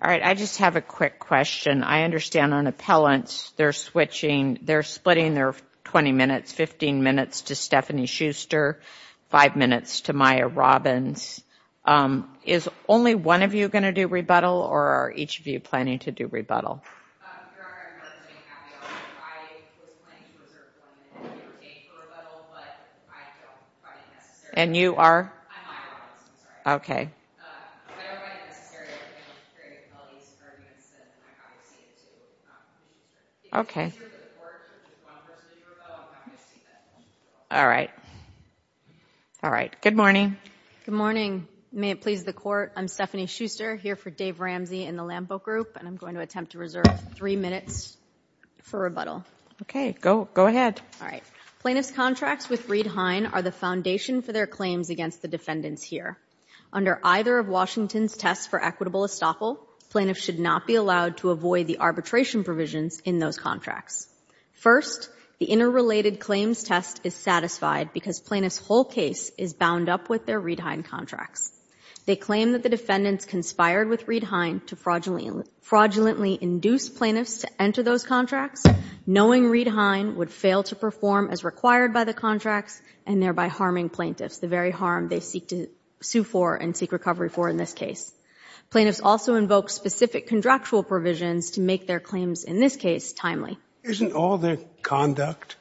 All right. I just have a quick question. I understand on appellants, they're splitting their 20 minutes, 15 minutes to Stephanie Schuster, five minutes to Maya Robbins. Is only one of you going to do rebuttal or are each of you planning to do rebuttal? And you are? Okay. All right. All right. Good morning. Stephanie Schuster Good morning. May it please the court. I'm Stephanie Schuster here for Dave for rebuttal. Okay. Go ahead. All right. Plaintiff's contracts with Reed-Hein are the foundation for their claims against the defendants here. Under either of Washington's tests for equitable estoppel, plaintiffs should not be allowed to avoid the arbitration provisions in those contracts. First, the interrelated claims test is satisfied because plaintiff's whole case is bound up with their Reed-Hein contracts. They claim that the defendants conspired with Reed-Hein to fraudulently induce plaintiffs to enter those contracts, knowing Reed-Hein would fail to perform as required by the contracts and thereby harming plaintiffs, the very harm they seek to sue for and seek recovery for in this case. Plaintiffs also invoke specific contractual provisions to make their claims in this case timely. Isn't all the conduct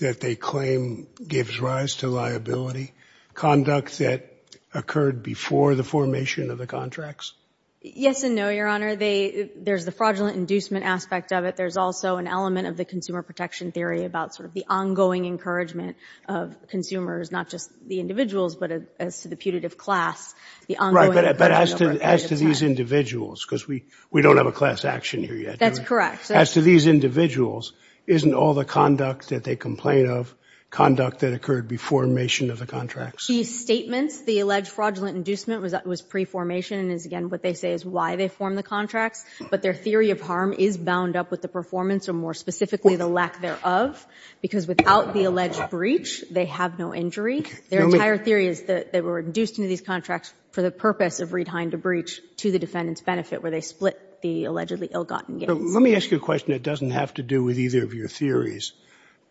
that they claim gives rise to liability conduct that occurred before the formation of the contracts? Yes and no, Your Honor. There's the fraudulent inducement aspect of it. There's also an element of the consumer protection theory about sort of the ongoing encouragement of consumers, not just the individuals, but as to the putative class. Right. But as to these individuals, because we don't have a class action here yet. That's correct. As to these individuals, isn't all the conduct that they complain of conduct that occurred before the formation of the contracts? These statements, the alleged fraudulent inducement was pre-formation and is again what they say is why they formed the contracts. But their theory of harm is bound up with the performance or more specifically the lack thereof, because without the alleged breach, they have no injury. Their entire theory is that they were induced into these contracts for the purpose of Reed-Hein to breach to the defendant's benefit where they split the allegedly ill-gotten gains. Let me ask you a question that doesn't have to do with either of your theories,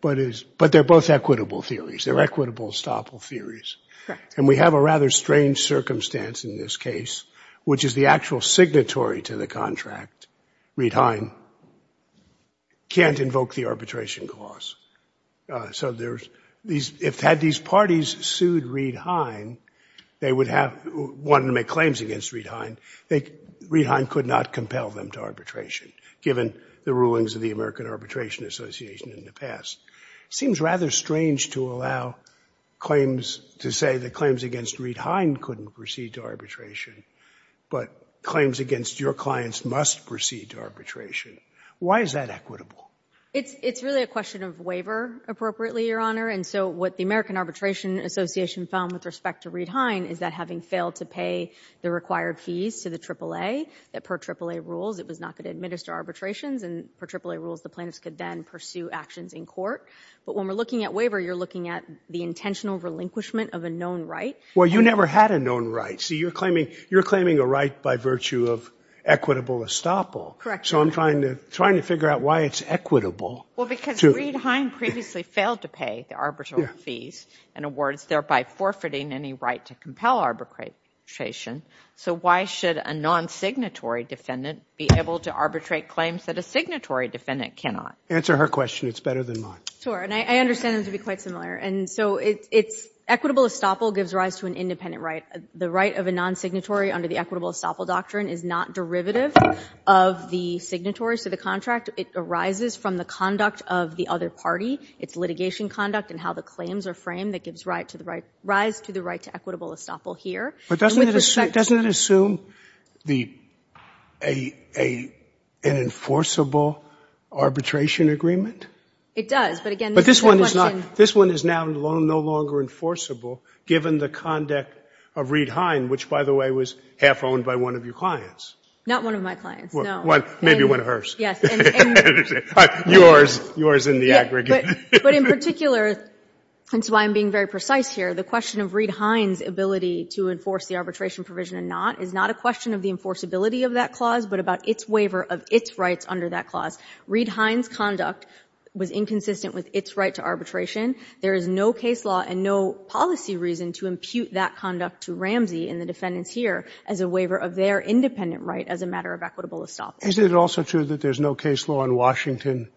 but they're both equitable theories. They're equitable, estoppel theories. And we have a rather strange circumstance in this case, which is the actual signatory to the contract. Reed-Hein can't invoke the arbitration clause. So if had these parties sued Reed-Hein, they would have wanted to make claims against Reed-Hein, Reed-Hein could not compel them to arbitration, given the rulings of the American Arbitration Association in the past. It seems rather strange to allow claims, to say that claims against Reed-Hein couldn't proceed to arbitration, but claims against your clients must proceed to arbitration. Why is that equitable? It's really a question of waiver appropriately, Your Honor. And so what the American Arbitration Association found with respect to Reed-Hein is that having failed to pay the required fees to the AAA, that per AAA rules, it was not going to administer arbitrations, and per AAA rules, the plaintiffs could then pursue actions in court. But when we're looking at waiver, you're looking at the intentional relinquishment of a known right. Well, you never had a known right. So you're claiming a right by virtue of equitable estoppel. Correct. So I'm trying to figure out why it's equitable. Well, because Reed-Hein previously failed to pay the arbitral fees and awards, thereby forfeiting any right to compel arbitration. So why should a non-signatory defendant be able to arbitrate claims that a signatory defendant cannot? Answer her question. It's better than mine. Sure. And I understand it to be quite similar. And so it's equitable estoppel gives rise to an independent right. The right of a non-signatory under the equitable estoppel doctrine is not derivative of the signatory. So the contract, it arises from the conduct of the other party, its litigation conduct, and how the claims are framed that gives rise to the right to equitable estoppel here. But doesn't it assume an enforceable arbitration agreement? It does. But again, this is a good question. This one is now no longer enforceable, given the conduct of Reed-Hein, which, by the way, was half owned by one of your clients. Not one of my clients, no. Maybe one of hers. Yours in the aggregate. But in particular, and so I'm being very precise here, the question of Reed-Hein's ability to enforce the arbitration provision or not is not a question of the enforceability of that clause, but about its waiver of its rights under that clause. Reed-Hein's conduct was inconsistent with its right to arbitration. There is no case law and no policy reason to impute that conduct to Ramsey and the defendants here as a waiver of their independent right as a matter of equitable estoppel. Is it also true that there's no case law in Washington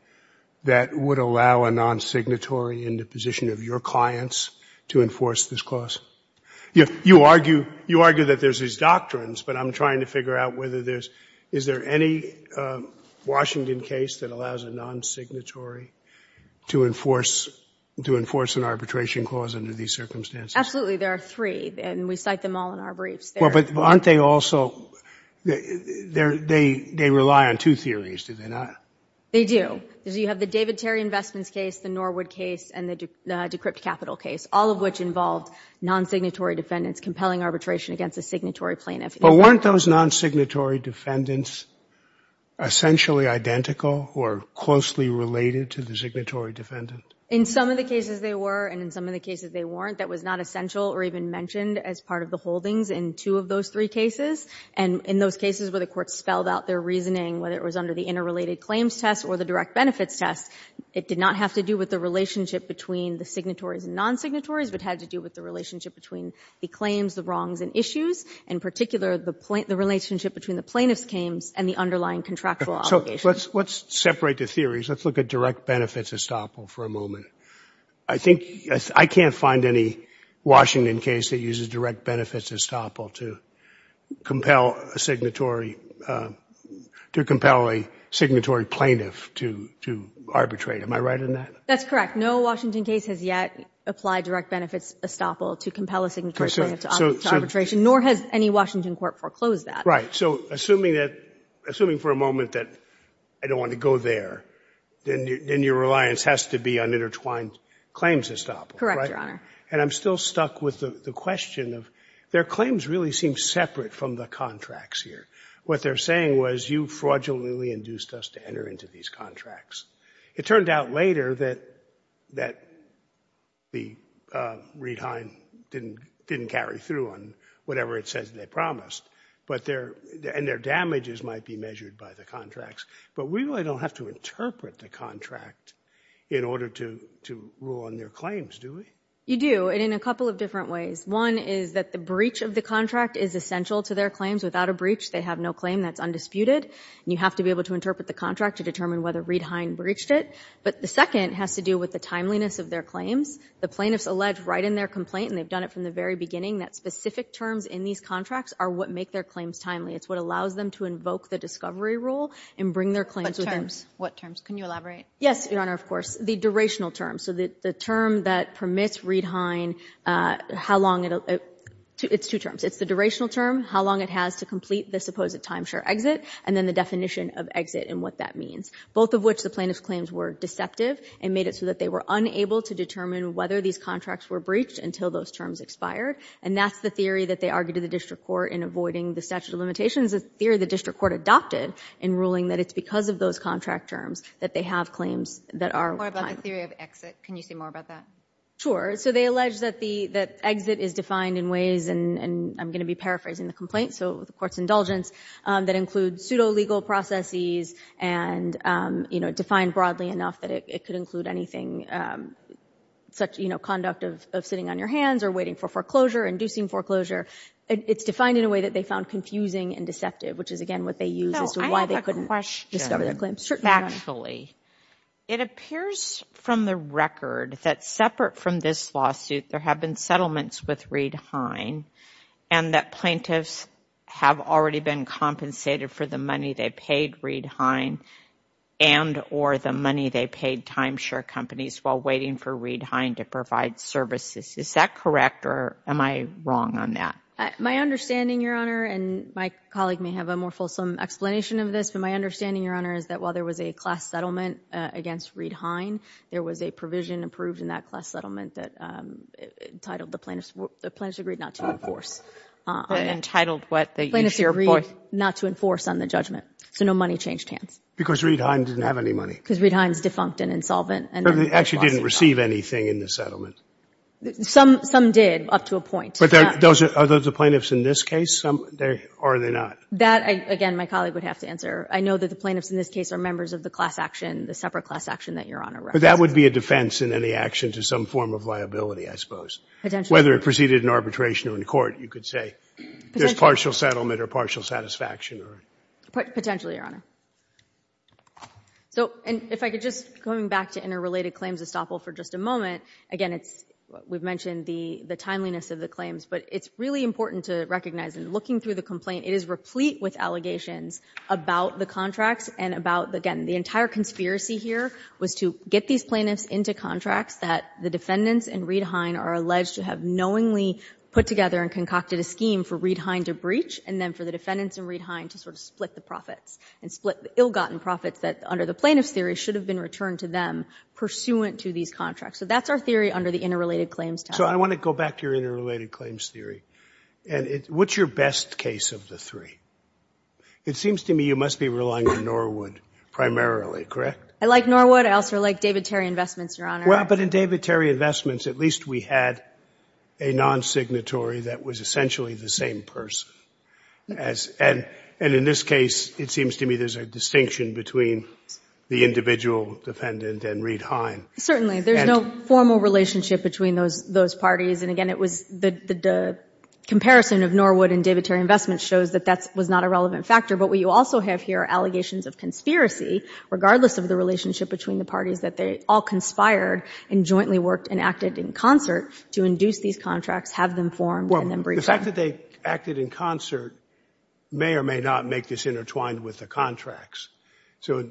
that would allow a non-signatory in the position of your clients to enforce this clause? You argue that there's these doctrines, but I'm trying to figure out whether there's – is there any Washington case that allows a non-signatory to enforce an arbitration clause under these circumstances? Absolutely. There are three, and we cite them all in our briefs. Well, but aren't they also – they rely on two theories, do they not? They do. You have the David Terry investments case, the Norwood case, and the decrypt capital case, all of which involved non-signatory defendants compelling arbitration against a signatory plaintiff. But weren't those non-signatory defendants essentially identical or closely related to the signatory defendant? In some of the cases, they were, and in some of the cases, they weren't. That was not essential or even mentioned as part of the holdings in two of those three cases. And in those cases where the Court spelled out their reasoning, whether it was under the interrelated claims test or the direct benefits test, it did not have to do with the relationship between the signatories and non-signatories, but had to do with the relationship between the claims, the wrongs, and issues, in particular, the relationship between the plaintiff's claims and the underlying contractual obligations. So let's separate the theories. Let's look at direct benefits estoppel for a moment. I think – I can't find any Washington case that uses direct benefits estoppel to compel a signatory – to compel a signatory plaintiff to – to arbitrate. Am I right in that? That's correct. No Washington case has yet applied direct benefits estoppel to compel a signatory plaintiff to arbitration, nor has any Washington court foreclosed that. Right. So assuming that – assuming for a moment that I don't want to go there, then your reliance has to be on intertwined claims estoppel, right? Correct, Your Honor. And I'm still stuck with the question of – their claims really seem separate from the contracts here. What they're saying was, you fraudulently induced us to enter into these contracts. It turned out later that – that the Reid-Hein didn't – didn't carry through on whatever it says they promised. But their – and their damages might be measured by the contracts. But we really don't have to interpret the contract in order to – to rule on their claims, do we? You do, and in a couple of different ways. One is that the breach of the contract is essential to their claims. Without a breach, they have no claim that's undisputed. And you have to be able to interpret the contract to determine whether Reid-Hein breached it. But the second has to do with the timeliness of their claims. The plaintiffs allege right in their complaint, and they've done it from the very beginning, that specific terms in these contracts are what make their claims timely. It's what allows them to invoke the discovery rule and bring their claims with them. What terms? Can you elaborate? Yes, Your Honor, of course. The durational terms. The term that permits Reid-Hein, how long – it's two terms. It's the durational term, how long it has to complete the supposed timeshare exit, and then the definition of exit and what that means. Both of which the plaintiff's claims were deceptive and made it so that they were unable to determine whether these contracts were breached until those terms expired. And that's the theory that they argued to the district court in avoiding the statute of limitations. The theory the district court adopted in ruling that it's because of those contract terms that they have claims that are – More about the theory of exit. Can you say more about that? So they allege that the – that exit is defined in ways, and I'm going to be paraphrasing the complaint, so the court's indulgence, that includes pseudo-legal processes and, you know, defined broadly enough that it could include anything such, you know, conduct of sitting on your hands or waiting for foreclosure, inducing foreclosure. It's defined in a way that they found confusing and deceptive, which is, again, what they used as to why they couldn't discover their claims. Factually, it appears from the record that separate from this lawsuit there have been settlements with Reid-Hein and that plaintiffs have already been compensated for the money they paid Reid-Hein and or the money they paid timeshare companies while waiting for Reid-Hein to provide services. Is that correct or am I wrong on that? My understanding, Your Honor, and my colleague may have a more fulsome explanation of this, but my understanding, Your Honor, is that while there was a class settlement against Reid-Hein, there was a provision approved in that class settlement that entitled the plaintiffs – the plaintiffs agreed not to enforce. Entitled what? The each-year point. Plaintiffs agreed not to enforce on the judgment. So no money changed hands. Because Reid-Hein didn't have any money. Because Reid-Hein is defunct and insolvent. And they actually didn't receive anything in the settlement. Some did, up to a point. But are those the plaintiffs in this case? Some – or are they not? That, again, my colleague would have to answer. I know that the plaintiffs in this case are members of the class action, the separate class action that Your Honor referenced. But that would be a defense in any action to some form of liability, I suppose. Potentially. Whether it proceeded in arbitration or in court, you could say there's partial settlement or partial satisfaction. Potentially, Your Honor. So if I could just – going back to interrelated claims estoppel for just a moment. Again, we've mentioned the timeliness of the claims, but it's really important to recognize in looking through the complaint, it is replete with allegations about the contracts and about, again, the entire conspiracy here was to get these plaintiffs into contracts that the defendants and Reid-Hein are alleged to have knowingly put together and concocted a scheme for Reid-Hein to breach, and then for the defendants and Reid-Hein to sort of split the profits. And split the ill-gotten profits that, under the plaintiff's theory, should have been returned to them pursuant to these contracts. So that's our theory under the interrelated claims. So I want to go back to your interrelated claims theory. And what's your best case of the three? It seems to me you must be relying on Norwood primarily, correct? I like Norwood. I also like David Terry Investments, Your Honor. Well, but in David Terry Investments, at least we had a non-signatory that was essentially the same person as – and in this case, it seems to me there's a distinction between the individual defendant and Reid-Hein. Certainly. There's no formal relationship between those parties. And again, it was – the comparison of Norwood and David Terry Investments shows that that was not a relevant factor. But what you also have here are allegations of conspiracy, regardless of the relationship between the parties, that they all conspired and jointly worked and acted in concert to induce these contracts, have them formed, and then breach them. Well, the fact that they acted in concert may or may not make this intertwined with the contracts. So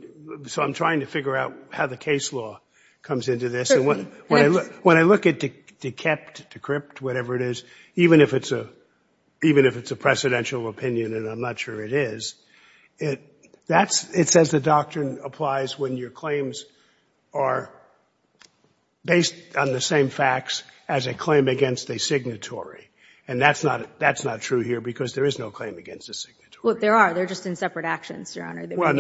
I'm trying to figure out how the case law comes into this. When I look at dekept, decrypt, whatever it is, even if it's a – even if it's a precedential opinion, and I'm not sure it is, that's – it says the doctrine applies when your claims are based on the same facts as a claim against a signatory. And that's not – that's not true here because there is no claim against a signatory. Well, there are. They're just in separate actions, Your Honor. Well,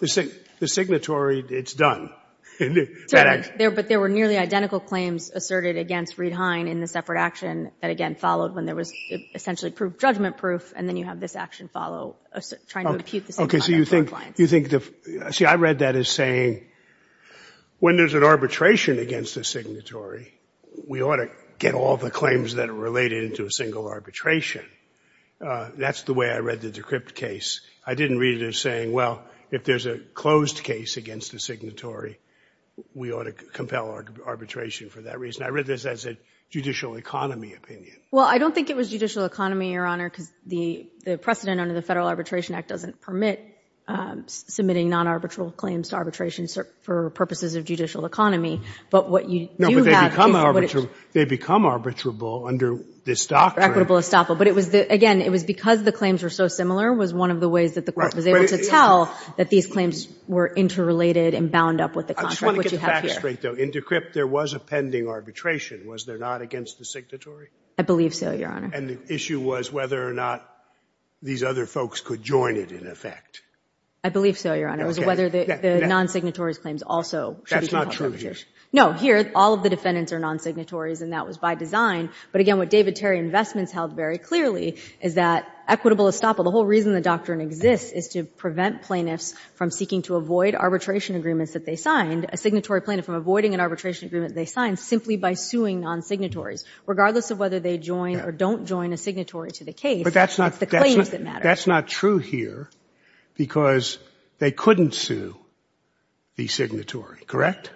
the signatory, it's done. But there were nearly identical claims asserted against Reed-Hein in the separate action that, again, followed when there was essentially proof – judgment proof, and then you have this action follow, trying to impute the same claim for a client. You think – see, I read that as saying when there's an arbitration against a signatory, we ought to get all the claims that are related into a single arbitration. That's the way I read the decrypt case. I didn't read it as saying, well, if there's a closed case against a signatory, we ought to compel arbitration for that reason. I read this as a judicial economy opinion. Well, I don't think it was judicial economy, Your Honor, because the precedent under the Federal Arbitration Act doesn't permit submitting non-arbitral claims to arbitration for purposes of judicial economy. But what you do have – No, but they become arbitrable under this doctrine. Equitable estoppel. Again, it was because the claims were so similar was one of the ways that the court was able to tell that these claims were interrelated and bound up with the contract, which you have here. I just want to get the facts straight, though. In decrypt, there was a pending arbitration. Was there not against the signatory? I believe so, Your Honor. And the issue was whether or not these other folks could join it in effect. I believe so, Your Honor. It was whether the non-signatory's claims also should be compelled to arbitration. That's not true here. No, here, all of the defendants are non-signatories, and that was by design. But again, what David Terry Investments held very clearly is that equitable estoppel, the whole reason the doctrine exists is to prevent plaintiffs from seeking to avoid arbitration agreements that they signed, a signatory plaintiff from avoiding an arbitration agreement they signed simply by suing non-signatories. Regardless of whether they join or don't join a signatory to the case, it's the claims that matter. But that's not true here because they couldn't sue the signatory, correct?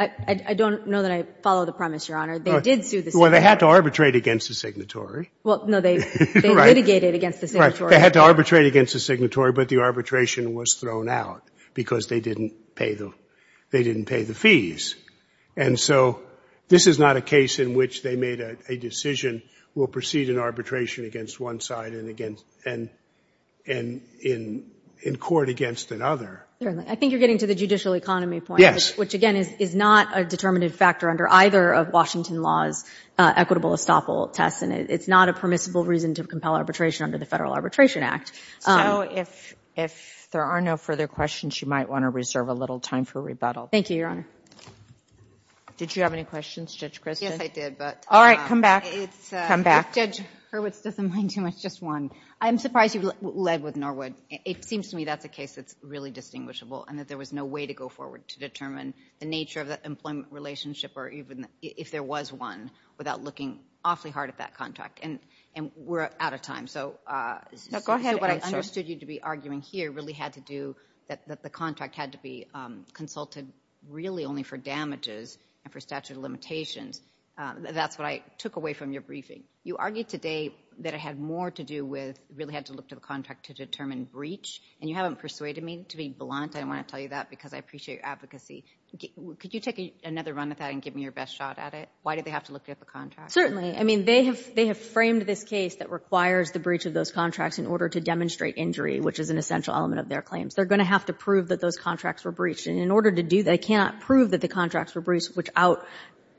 I don't know that I follow the premise, Your Honor. They did sue the signatory. They had to arbitrate against the signatory. Well, no, they litigated against the signatory. They had to arbitrate against the signatory, but the arbitration was thrown out because they didn't pay the fees. And so this is not a case in which they made a decision, we'll proceed an arbitration against one side and in court against another. I think you're getting to the judicial economy point, which again is not a determinative factor under either of Washington law's equitable estoppel tests and it's not a permissible reason to compel arbitration under the Federal Arbitration Act. So if there are no further questions, you might want to reserve a little time for rebuttal. Thank you, Your Honor. Did you have any questions, Judge Christin? Yes, I did, but... All right, come back. Come back. Judge Hurwitz doesn't mind too much, just one. I'm surprised you led with Norwood. It seems to me that's a case that's really distinguishable and that there was no way to go forward to determine the nature of the employment relationship or even if there was one without looking awfully hard at that contract. And we're out of time. So what I understood you to be arguing here really had to do that the contract had to be consulted really only for damages and for statute of limitations. That's what I took away from your briefing. You argued today that it had more to do with really had to look to the contract to determine breach and you haven't persuaded me to be blunt. I want to tell you that because I appreciate your advocacy. Could you take another run at that and give me your best shot at it? Why did they have to look at the contract? I mean, they have framed this case that requires the breach of those contracts in order to demonstrate injury, which is an essential element of their claims. They're going to have to prove that those contracts were breached. And in order to do that, they cannot prove that the contracts were breached without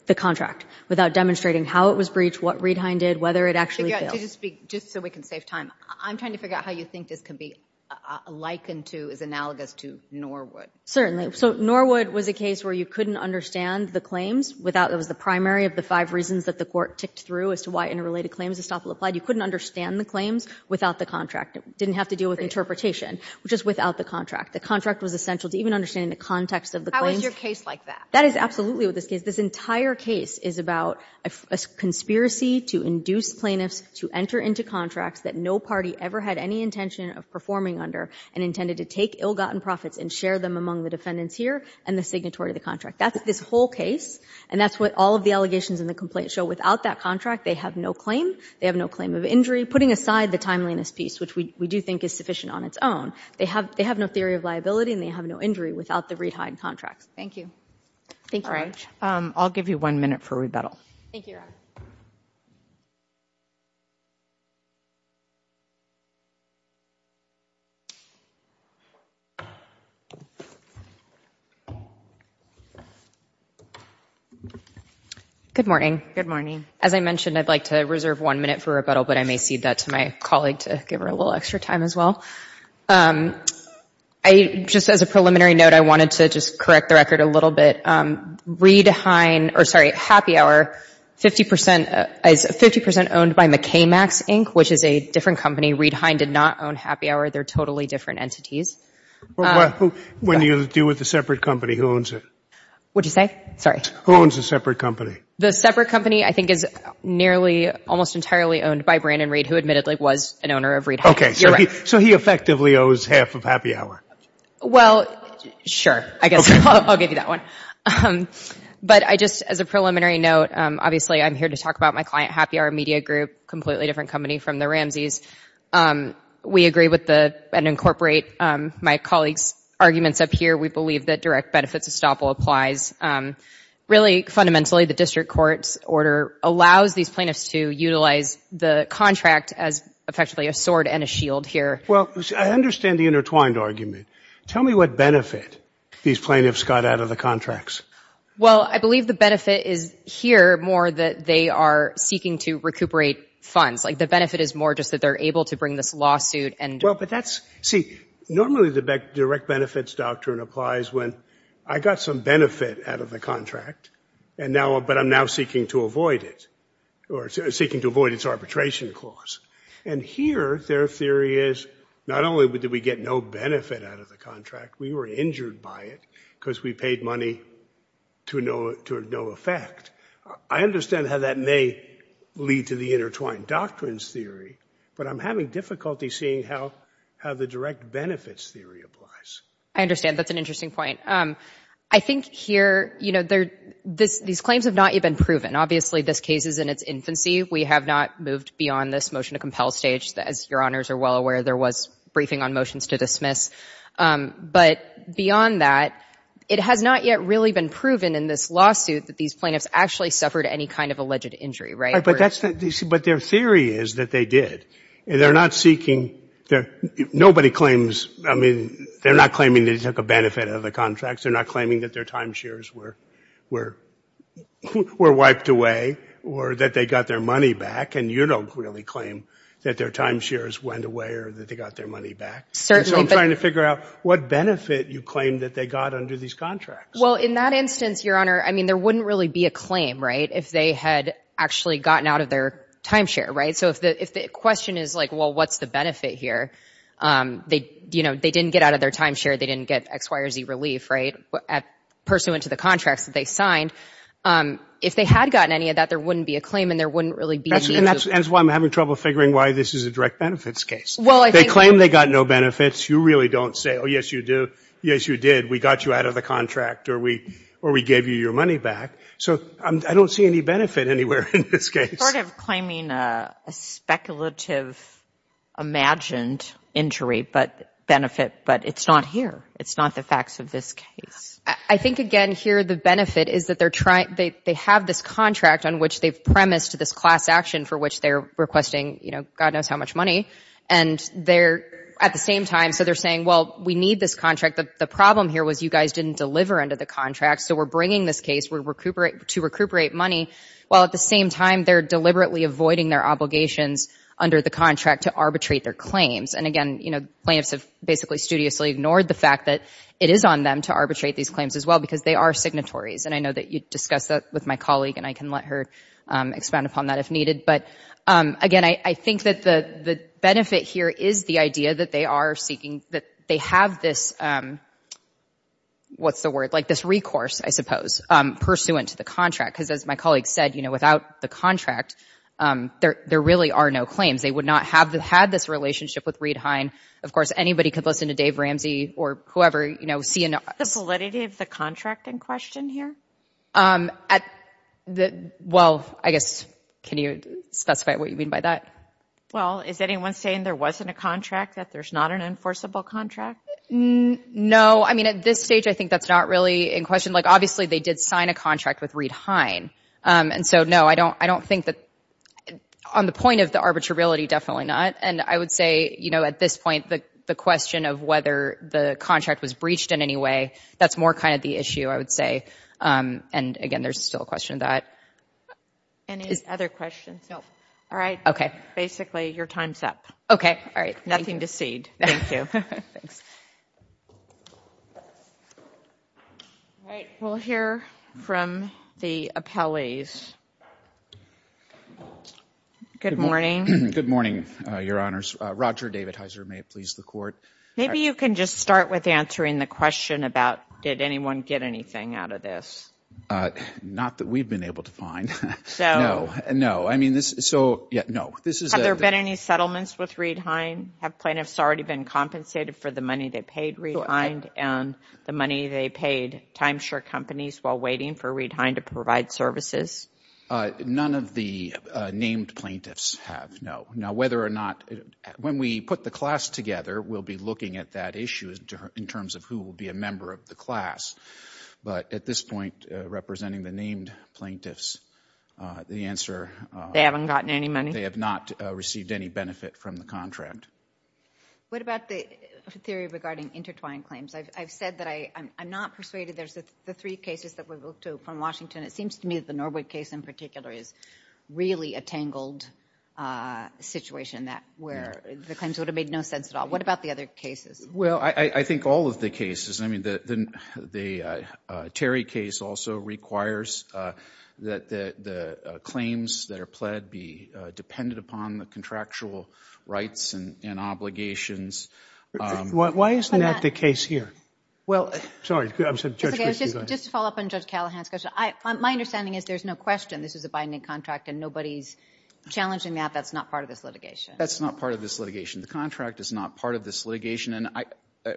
the contract, without demonstrating how it was breached, what Reidine did, whether it actually failed. Just so we can save time, I'm trying to figure out how you think this can be likened to, analogous to, Norwood. Certainly. So Norwood was a case where you couldn't understand the claims without, it was the primary of the five reasons that the court ticked through as to why interrelated claims of estoppel applied. You couldn't understand the claims without the contract. It didn't have to deal with interpretation, which is without the contract. The contract was essential to even understanding the context of the claims. How is your case like that? That is absolutely with this case. This entire case is about a conspiracy to induce plaintiffs to enter into contracts that no party ever had any intention of performing under, and intended to take ill-gotten profits and share them among the defendants here and the signatory of the contract. That's this whole case. And that's what all of the allegations in the complaint show. Without that contract, they have no claim. They have no claim of injury, putting aside the timeliness piece, which we do think is sufficient on its own. They have no theory of liability, and they have no injury without the Reidine contracts. Thank you. Thank you very much. I'll give you one minute for rebuttal. Thank you, Your Honor. Good morning. Good morning. As I mentioned, I'd like to reserve one minute for rebuttal, but I may cede that to my colleague to give her a little extra time as well. I, just as a preliminary note, I wanted to just correct the record a little bit. Reid-Hein, or sorry, Happy Hour, 50 percent, is 50 percent owned by McKay-Max, Inc., which is a different company. Reid-Hein did not own Happy Hour. They're totally different entities. When you deal with a separate company, who owns it? What'd you say? Sorry. Who owns a separate company? The separate company, I think, is nearly, almost entirely owned by Brandon Reid, who admittedly was an owner of Reid-Hein. Okay. So he effectively owes half of Happy Hour. Well, sure. I guess I'll give you that one. But I just, as a preliminary note, obviously, I'm here to talk about my client, Happy Hour Media Group, completely different company from the Ramseys. We agree with the, and incorporate my colleague's arguments up here. We believe that direct benefits estoppel applies. Really, fundamentally, the district court's order allows these plaintiffs to utilize the contract as effectively a sword and a shield here. Well, I understand the intertwined argument. Tell me what benefit these plaintiffs got out of the contracts. Well, I believe the benefit is here more that they are seeking to recuperate funds. Like, the benefit is more just that they're able to bring this lawsuit and- Well, but that's, see, normally the direct benefits doctrine applies when I got some benefit out of the contract, and now, but I'm now seeking to avoid it, or seeking to avoid its arbitration clause. And here, their theory is, not only did we get no benefit out of the contract, we were injured by it because we paid money to no effect. I understand how that may lead to the intertwined doctrines theory, but I'm having difficulty seeing how the direct benefits theory applies. I understand. That's an interesting point. I think here, you know, these claims have not yet been proven. Obviously, this case is in its infancy. We have not moved beyond this motion to compel stage. As your honors are well aware, there was briefing on motions to dismiss. But beyond that, it has not yet really been proven in this lawsuit that these plaintiffs actually suffered any kind of alleged injury, right? All right, but that's the, but their theory is that they did. They're not seeking, nobody claims, I mean, they're not claiming they took a benefit out of the contracts. They're not claiming that their timeshares were wiped away, or that they got their money back. And you don't really claim that their timeshares went away, or that they got their money back. Certainly. So I'm trying to figure out what benefit you claim that they got under these contracts. Well, in that instance, your honor, I mean, there wouldn't really be a claim, right? If they had actually gotten out of their timeshare, right? So if the question is like, well, what's the benefit here? They, you know, they didn't get out of their timeshare. They didn't get X, Y, or Z relief, right? Pursuant to the contracts that they signed. If they had gotten any of that, there wouldn't be a claim, and there wouldn't really be any use. And that's why I'm having trouble figuring why this is a direct benefits case. They claim they got no benefits. You really don't say, oh, yes, you do. Yes, you did. We got you out of the contract, or we gave you your money back. So I don't see any benefit anywhere in this case. Sort of claiming a speculative, imagined injury, but benefit, but it's not here. It's not the facts of this case. I think, again, here the benefit is that they're trying, they have this contract on which they've premised this class action for which they're requesting, you know, God knows how much money. And they're, at the same time, so they're saying, well, we need this contract. The problem here was you guys didn't deliver under the contract. So we're bringing this case to recuperate money. Well, at the same time, they're deliberately avoiding their obligations under the contract to arbitrate their claims. And again, you know, plaintiffs have basically studiously ignored the fact that it is on them to arbitrate these claims as well because they are signatories. And I know that you discussed that with my colleague, and I can let her expand upon that if needed. But again, I think that the benefit here is the idea that they are seeking, that they have this, what's the word? Like this recourse, I suppose, pursuant to the contract. Because as my colleague said, you know, without the contract, there really are no claims. They would not have had this relationship with Reid Hine. Of course, anybody could listen to Dave Ramsey or whoever, you know, CNN. The validity of the contract in question here? At the, well, I guess, can you specify what you mean by that? Well, is anyone saying there wasn't a contract? That there's not an enforceable contract? No. I mean, at this stage, I think that's not really in question. Like, obviously, they did sign a contract with Reid Hine. And so, no, I don't think that, on the point of the arbitrarility, definitely not. And I would say, you know, at this point, the question of whether the contract was breached in any way, that's more kind of the issue, I would say. And again, there's still a question of that. Any other questions? All right. Okay. Basically, your time's up. Okay. All right. Nothing to cede. Thank you. All right. We'll hear from the appellees. Good morning. Good morning, Your Honors. Roger David Heiser, may it please the Court. Maybe you can just start with answering the question about did anyone get anything out of this? Not that we've been able to find. No, no. I mean, so, yeah, no. Have there been any settlements with Reid Hine? Have plaintiffs already been compensated for the money they paid Reid Hine and the money they paid Timeshare companies while waiting for Reid Hine to provide services? None of the named plaintiffs have, no. Now, whether or not, when we put the class together, we'll be looking at that issue in terms of who will be a member of the class. But at this point, representing the named plaintiffs, the answer— They haven't gotten any money? They have not received any benefit from the contract. What about the theory regarding intertwined claims? I've said that I'm not persuaded. There's the three cases that we looked to from Washington. It seems to me that the Norwood case in particular is really a tangled situation that where the claims would have made no sense at all. What about the other cases? Well, I think all of the cases. I mean, the Terry case also requires that the claims that are pled be dependent upon the contractual rights and obligations. Why isn't that the case here? Just to follow up on Judge Callahan's question. My understanding is there's no question this is a binding contract, and nobody's challenging that. That's not part of this litigation. That's not part of this litigation. The contract is not part of this litigation.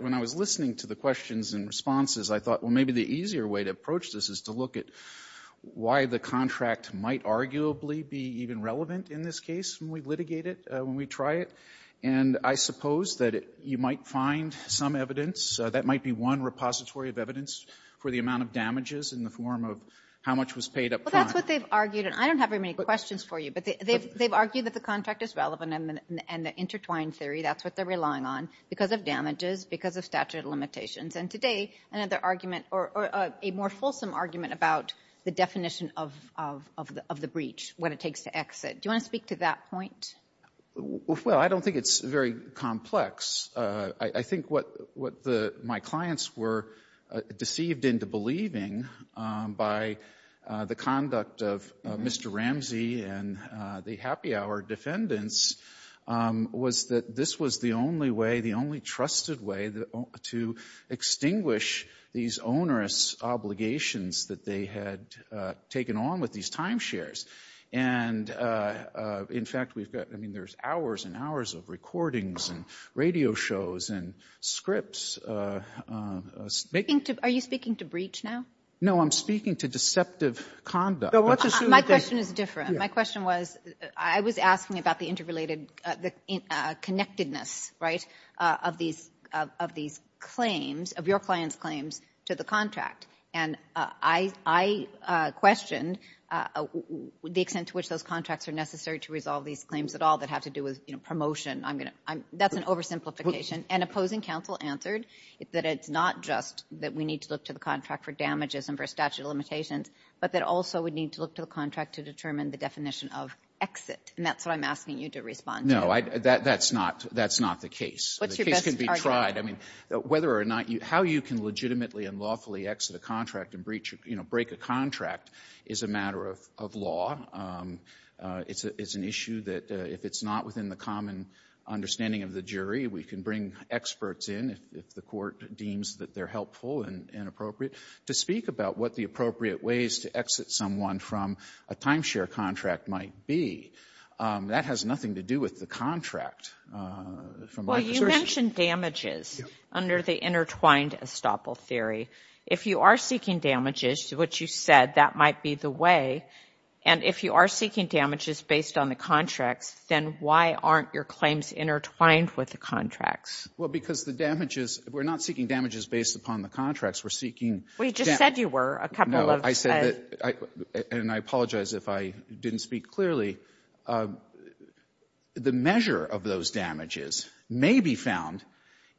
When I was listening to the questions and responses, I thought, well, maybe the easier way to approach this is to look at why the contract might arguably be even relevant in this case when we litigate it, when we try it. And I suppose that you might find some evidence. That might be one repository of evidence for the amount of damages in the form of how much was paid up front. Well, that's what they've argued. And I don't have very many questions for you. But they've argued that the contract is relevant and the intertwined theory, that's what they're relying on, because of damages, because of statute of limitations. And today, another argument or a more fulsome argument about the definition of the breach, what it takes to exit. Do you want to speak to that point? Well, I don't think it's very complex. I think what my clients were deceived into believing by the conduct of Mr. Ramsey and the happy hour defendants was that this was the only way, the only trusted way to extinguish these onerous obligations that they had taken on with these timeshares. And in fact, we've got, I mean, there's hours and hours of recordings and radio shows and scripts. Are you speaking to breach now? No, I'm speaking to deceptive conduct. My question is different. My question was, I was asking about the interconnectedness, right, of these claims, of your clients' claims to the contract. And I questioned the extent to which those contracts are necessary to resolve these claims at all that have to do with promotion. That's an oversimplification. And opposing counsel answered that it's not just that we need to look to the contract for damages and for statute of limitations, but that also we need to look to the contract to determine the definition of exit. And that's what I'm asking you to respond to. No, that's not the case. The case can be tried. I mean, whether or not you, how you can legitimately and lawfully exit a contract and breach, you know, break a contract is a matter of law. It's an issue that if it's not within the common understanding of the jury, we can bring experts in if the court deems that they're helpful and appropriate. To speak about what the appropriate ways to exit someone from a timeshare contract might be, that has nothing to do with the contract. Well, you mentioned damages under the intertwined estoppel theory. If you are seeking damages, which you said, that might be the way. And if you are seeking damages based on the contracts, then why aren't your claims intertwined with the contracts? Well, because the damages, we're not seeking damages based upon the contracts. Well, you just said you were. No, I said that, and I apologize if I didn't speak clearly. The measure of those damages may be found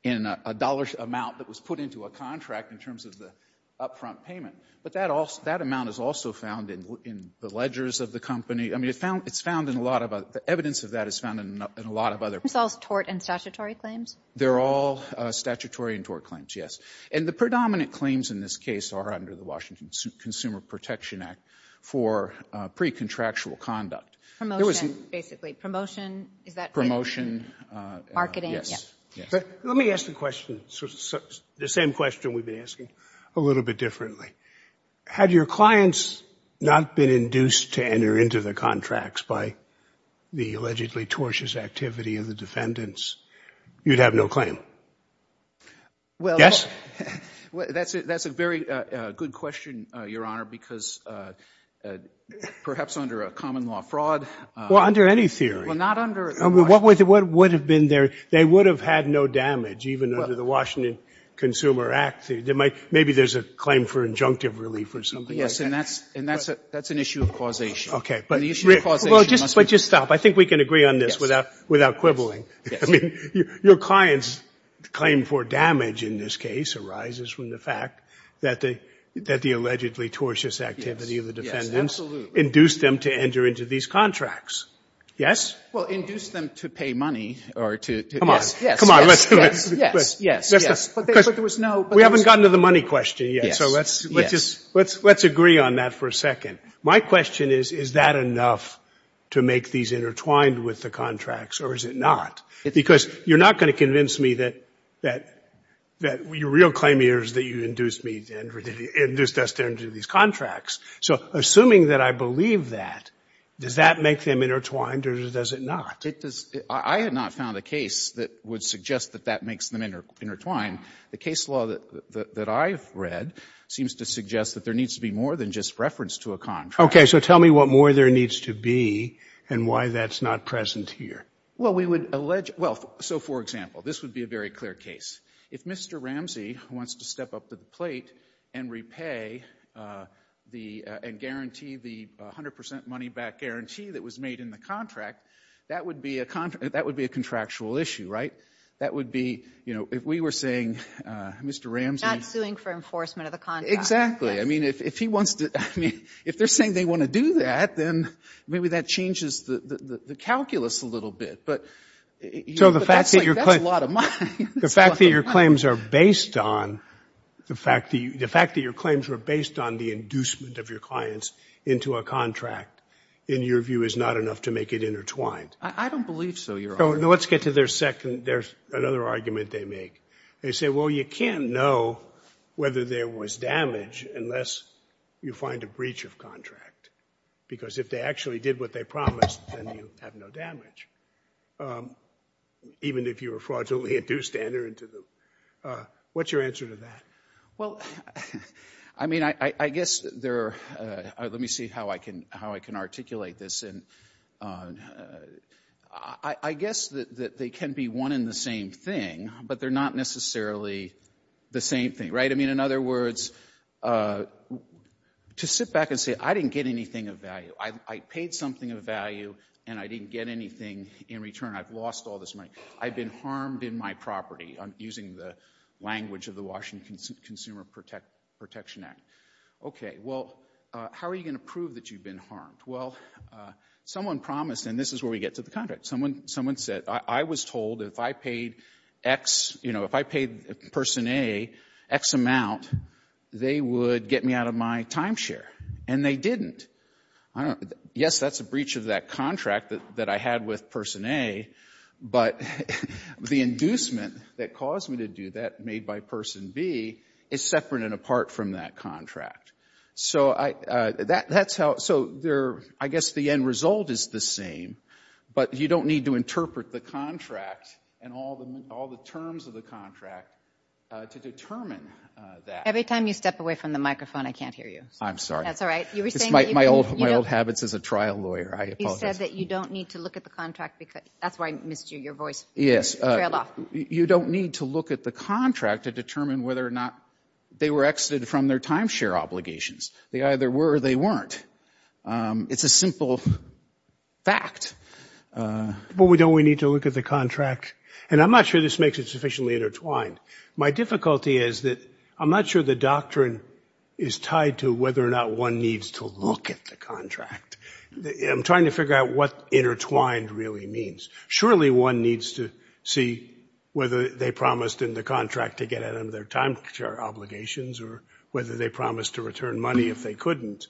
in a dollar amount that was put into a contract in terms of the upfront payment. But that amount is also found in the ledgers of the company. I mean, it's found in a lot of evidence of that is found in a lot of other. It's all tort and statutory claims? They're all statutory and tort claims, yes. And the predominant claims in this case are under the Washington Consumer Protection Act for pre-contractual conduct. Promotion, basically. Promotion, is that right? Promotion. Marketing. Let me ask the question, the same question we've been asking a little bit differently. Had your clients not been induced to enter into the contracts by the allegedly tortious activity of the defendants, you'd have no claim. Well, that's a very good question, Your Honor, because perhaps under a common law fraud. Well, under any theory. Well, not under. What would have been there? They would have had no damage even under the Washington Consumer Act. Maybe there's a claim for injunctive relief or something. Yes, and that's an issue of causation. Okay, but just stop. I think we can agree on this without quibbling. I mean, your client's claim for damage in this case arises from the fact that the allegedly tortious activity of the defendants induced them to enter into these contracts. Yes? Well, induced them to pay money or to. Come on. Come on, let's do it. Yes, yes, yes. But there was no. We haven't gotten to the money question yet. So let's just, let's agree on that for a second. My question is, is that enough to make these intertwined with the contracts, or is it not? Because you're not going to convince me that your real claim here is that you induced me and induced us to enter into these contracts. So assuming that I believe that, does that make them intertwined, or does it not? I have not found a case that would suggest that that makes them intertwined. The case law that I've read seems to suggest that there needs to be more than just reference to a contract. Okay. So tell me what more there needs to be and why that's not present here. Well, we would allege. Well, so for example, this would be a very clear case. If Mr. Ramsey wants to step up to the plate and repay the, and guarantee the 100 percent money back guarantee that was made in the contract, that would be a contractual issue, right? That would be, you know, if we were saying Mr. Ramsey. Not suing for enforcement of the contract. Exactly. I mean, if he wants to, I mean, if they're saying they want to do that, then maybe that changes the calculus a little bit. But that's a lot of money. The fact that your claims are based on, the fact that your claims were based on the inducement of your clients into a contract, in your view, is not enough to make it intertwined. I don't believe so, Your Honor. Let's get to their second. There's another argument they make. They say, well, you can't know whether there was damage unless you find a breach of contract, because if they actually did what they promised, then you have no damage, even if you were fraudulently induced to enter into the, what's your answer to that? Well, I mean, I guess there are, let me see how I can, how I can articulate this. And I guess that they can be one in the same thing, but they're not necessarily the same thing, right? I mean, in other words, to sit back and say, I didn't get anything of value. I paid something of value, and I didn't get anything in return. I've lost all this money. I've been harmed in my property. I'm using the language of the Washington Consumer Protection Act. Okay. Well, how are you going to prove that you've been harmed? Well, someone promised, and this is where we get to the contract. Someone said, I was told if I paid X, you know, if I paid person A X amount, they would get me out of my timeshare, and they didn't. Yes, that's a breach of that contract that I had with person A, but the inducement that caused me to do that made by person B is separate and apart from that contract. So I guess the end result is the same, but you don't need to interpret the contract and all the terms of the contract to determine that. Every time you step away from the microphone, I can't hear you. I'm sorry. That's all right. You were saying that you— My old habits as a trial lawyer. I apologize. You said that you don't need to look at the contract because—that's why I missed you, your voice. Yes. You don't need to look at the contract to determine whether or not they were exited from their timeshare obligations. They either were or they weren't. It's a simple fact. But don't we need to look at the contract? And I'm not sure this makes it sufficiently intertwined. My difficulty is that I'm not sure the doctrine is tied to whether or not one needs to look at the contract. I'm trying to figure out what intertwined really means. Surely one needs to see whether they promised in the contract to get out of their timeshare obligations or whether they promised to return money if they couldn't.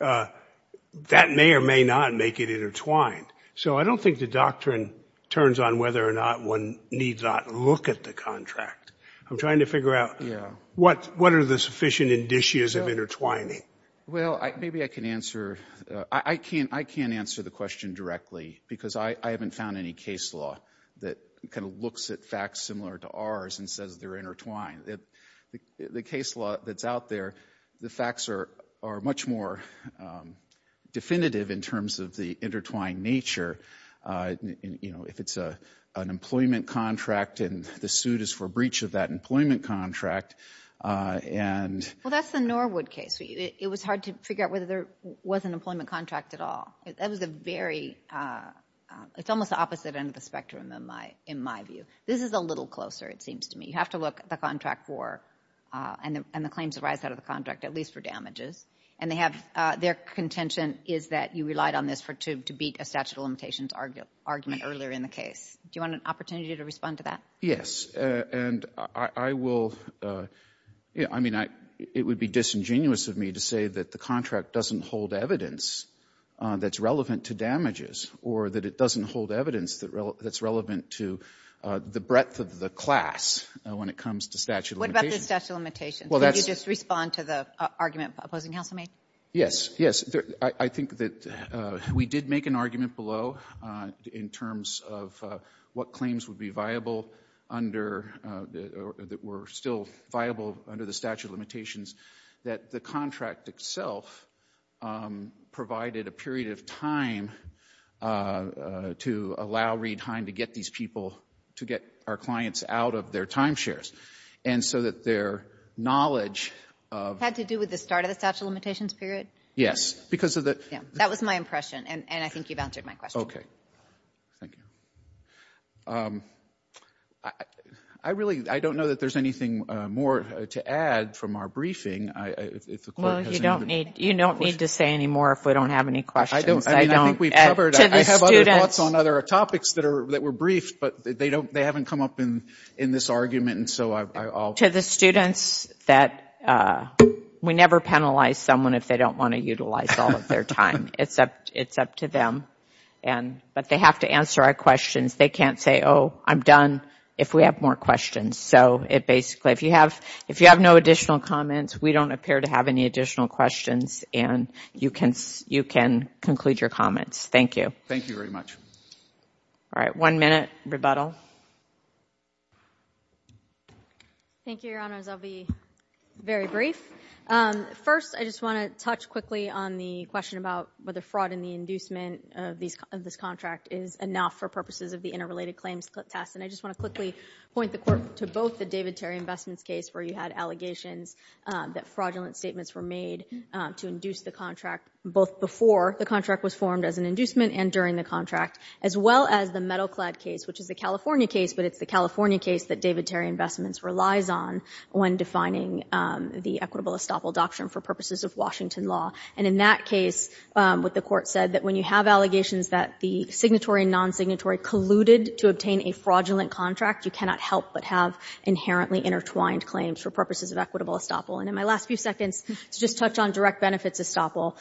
That may or may not make it intertwined. So I don't think the doctrine turns on whether or not one needs not look at the contract. I'm trying to figure out what are the sufficient indicias of intertwining. Well, maybe I can answer—I can't answer the question directly because I haven't found any case law that kind of looks at facts similar to ours and says they're intertwined. The case law that's out there, the facts are much more definitive in terms of the intertwined nature, you know, if it's an employment contract and the suit is for breach of that employment contract and— Well, that's the Norwood case. It was hard to figure out whether there was an employment contract at all. That was a very—it's almost the opposite end of the spectrum in my view. This is a little closer, it seems to me. You have to look at the contract for—and the claims arise out of the contract at least for damages. And they have—their contention is that you relied on this to beat a statute of limitations argument earlier in the case. Do you want an opportunity to respond to that? Yes. And I will—I mean, it would be disingenuous of me to say that the contract doesn't hold evidence that's relevant to damages or that it doesn't hold evidence that's relevant to the breadth of the class when it comes to statute of limitations. What about the statute of limitations? Well, that's— Can you just respond to the argument opposing counsel, maybe? Yes. Yes. I think that we did make an argument below in terms of what claims would be viable under—that were still viable under the statute of limitations that the contract itself provided a period of time to allow Reid Hine to get these people—to get our clients out of their timeshares. And so that their knowledge of— Had to do with the start of the statute of limitations period? Yes. Because of the— That was my impression. And I think you've answered my question. Thank you. I really—I don't know that there's anything more to add from our briefing. You don't need to say any more if we don't have any questions. I think we've covered—I have other thoughts on other topics that were briefed, but they haven't come up in this argument, and so I'll— To the students that—we never penalize someone if they don't want to utilize all of their time. It's up to them. But they have to answer our questions. They can't say, oh, I'm done if we have more questions. So it basically—if you have no additional comments, we don't appear to have any additional questions, and you can conclude your comments. Thank you. Thank you very much. All right. One minute. Rebuttal. Thank you, Your Honors. I'll be very brief. First, I just want to touch quickly on the question about whether fraud in the inducement of this contract is enough for purposes of the interrelated claims test. And I just want to quickly point the court to both the David Terry investments case where you had allegations that fraudulent statements were made to induce the contract both before the contract was formed as an inducement and during the contract, as well as the metal-clad case, which is the California case, but it's the California case that David Terry Investments relies on when defining the equitable estoppel doctrine for purposes of Washington law. And in that case, what the court said, that when you have allegations that the signatory and non-signatory colluded to obtain a fraudulent contract, you cannot help but have inherently intertwined claims for purposes of equitable estoppel. And in my last few seconds, to just touch on direct benefits estoppel,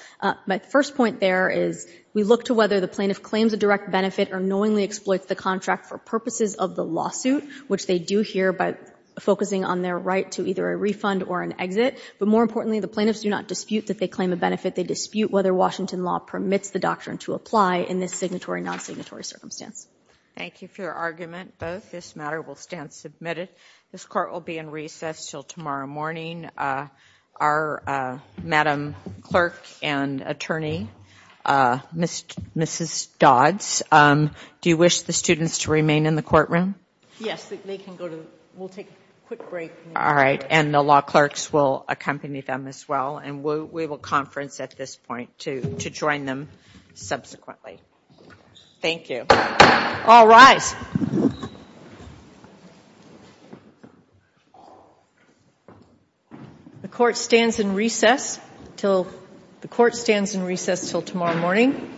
my first point there is we look to whether the plaintiff claims a direct benefit or knowingly exploits the contract for purposes of the lawsuit, which they do here by focusing on their right to either a refund or an exit. But more importantly, the plaintiffs do not dispute that they claim a benefit. They dispute whether Washington law permits the doctrine to apply in this signatory, non-signatory circumstance. Thank you for your argument. Both this matter will stand submitted. This court will be in recess until tomorrow morning. Our madam clerk and attorney, Mrs. Dodds, do you wish the students to remain in the courtroom? Yes, they can go to, we'll take a quick break. All right. And the law clerks will accompany them as well. And we will conference at this point to join them subsequently. Thank you. All rise. The court stands in recess until, the court stands in recess until tomorrow morning.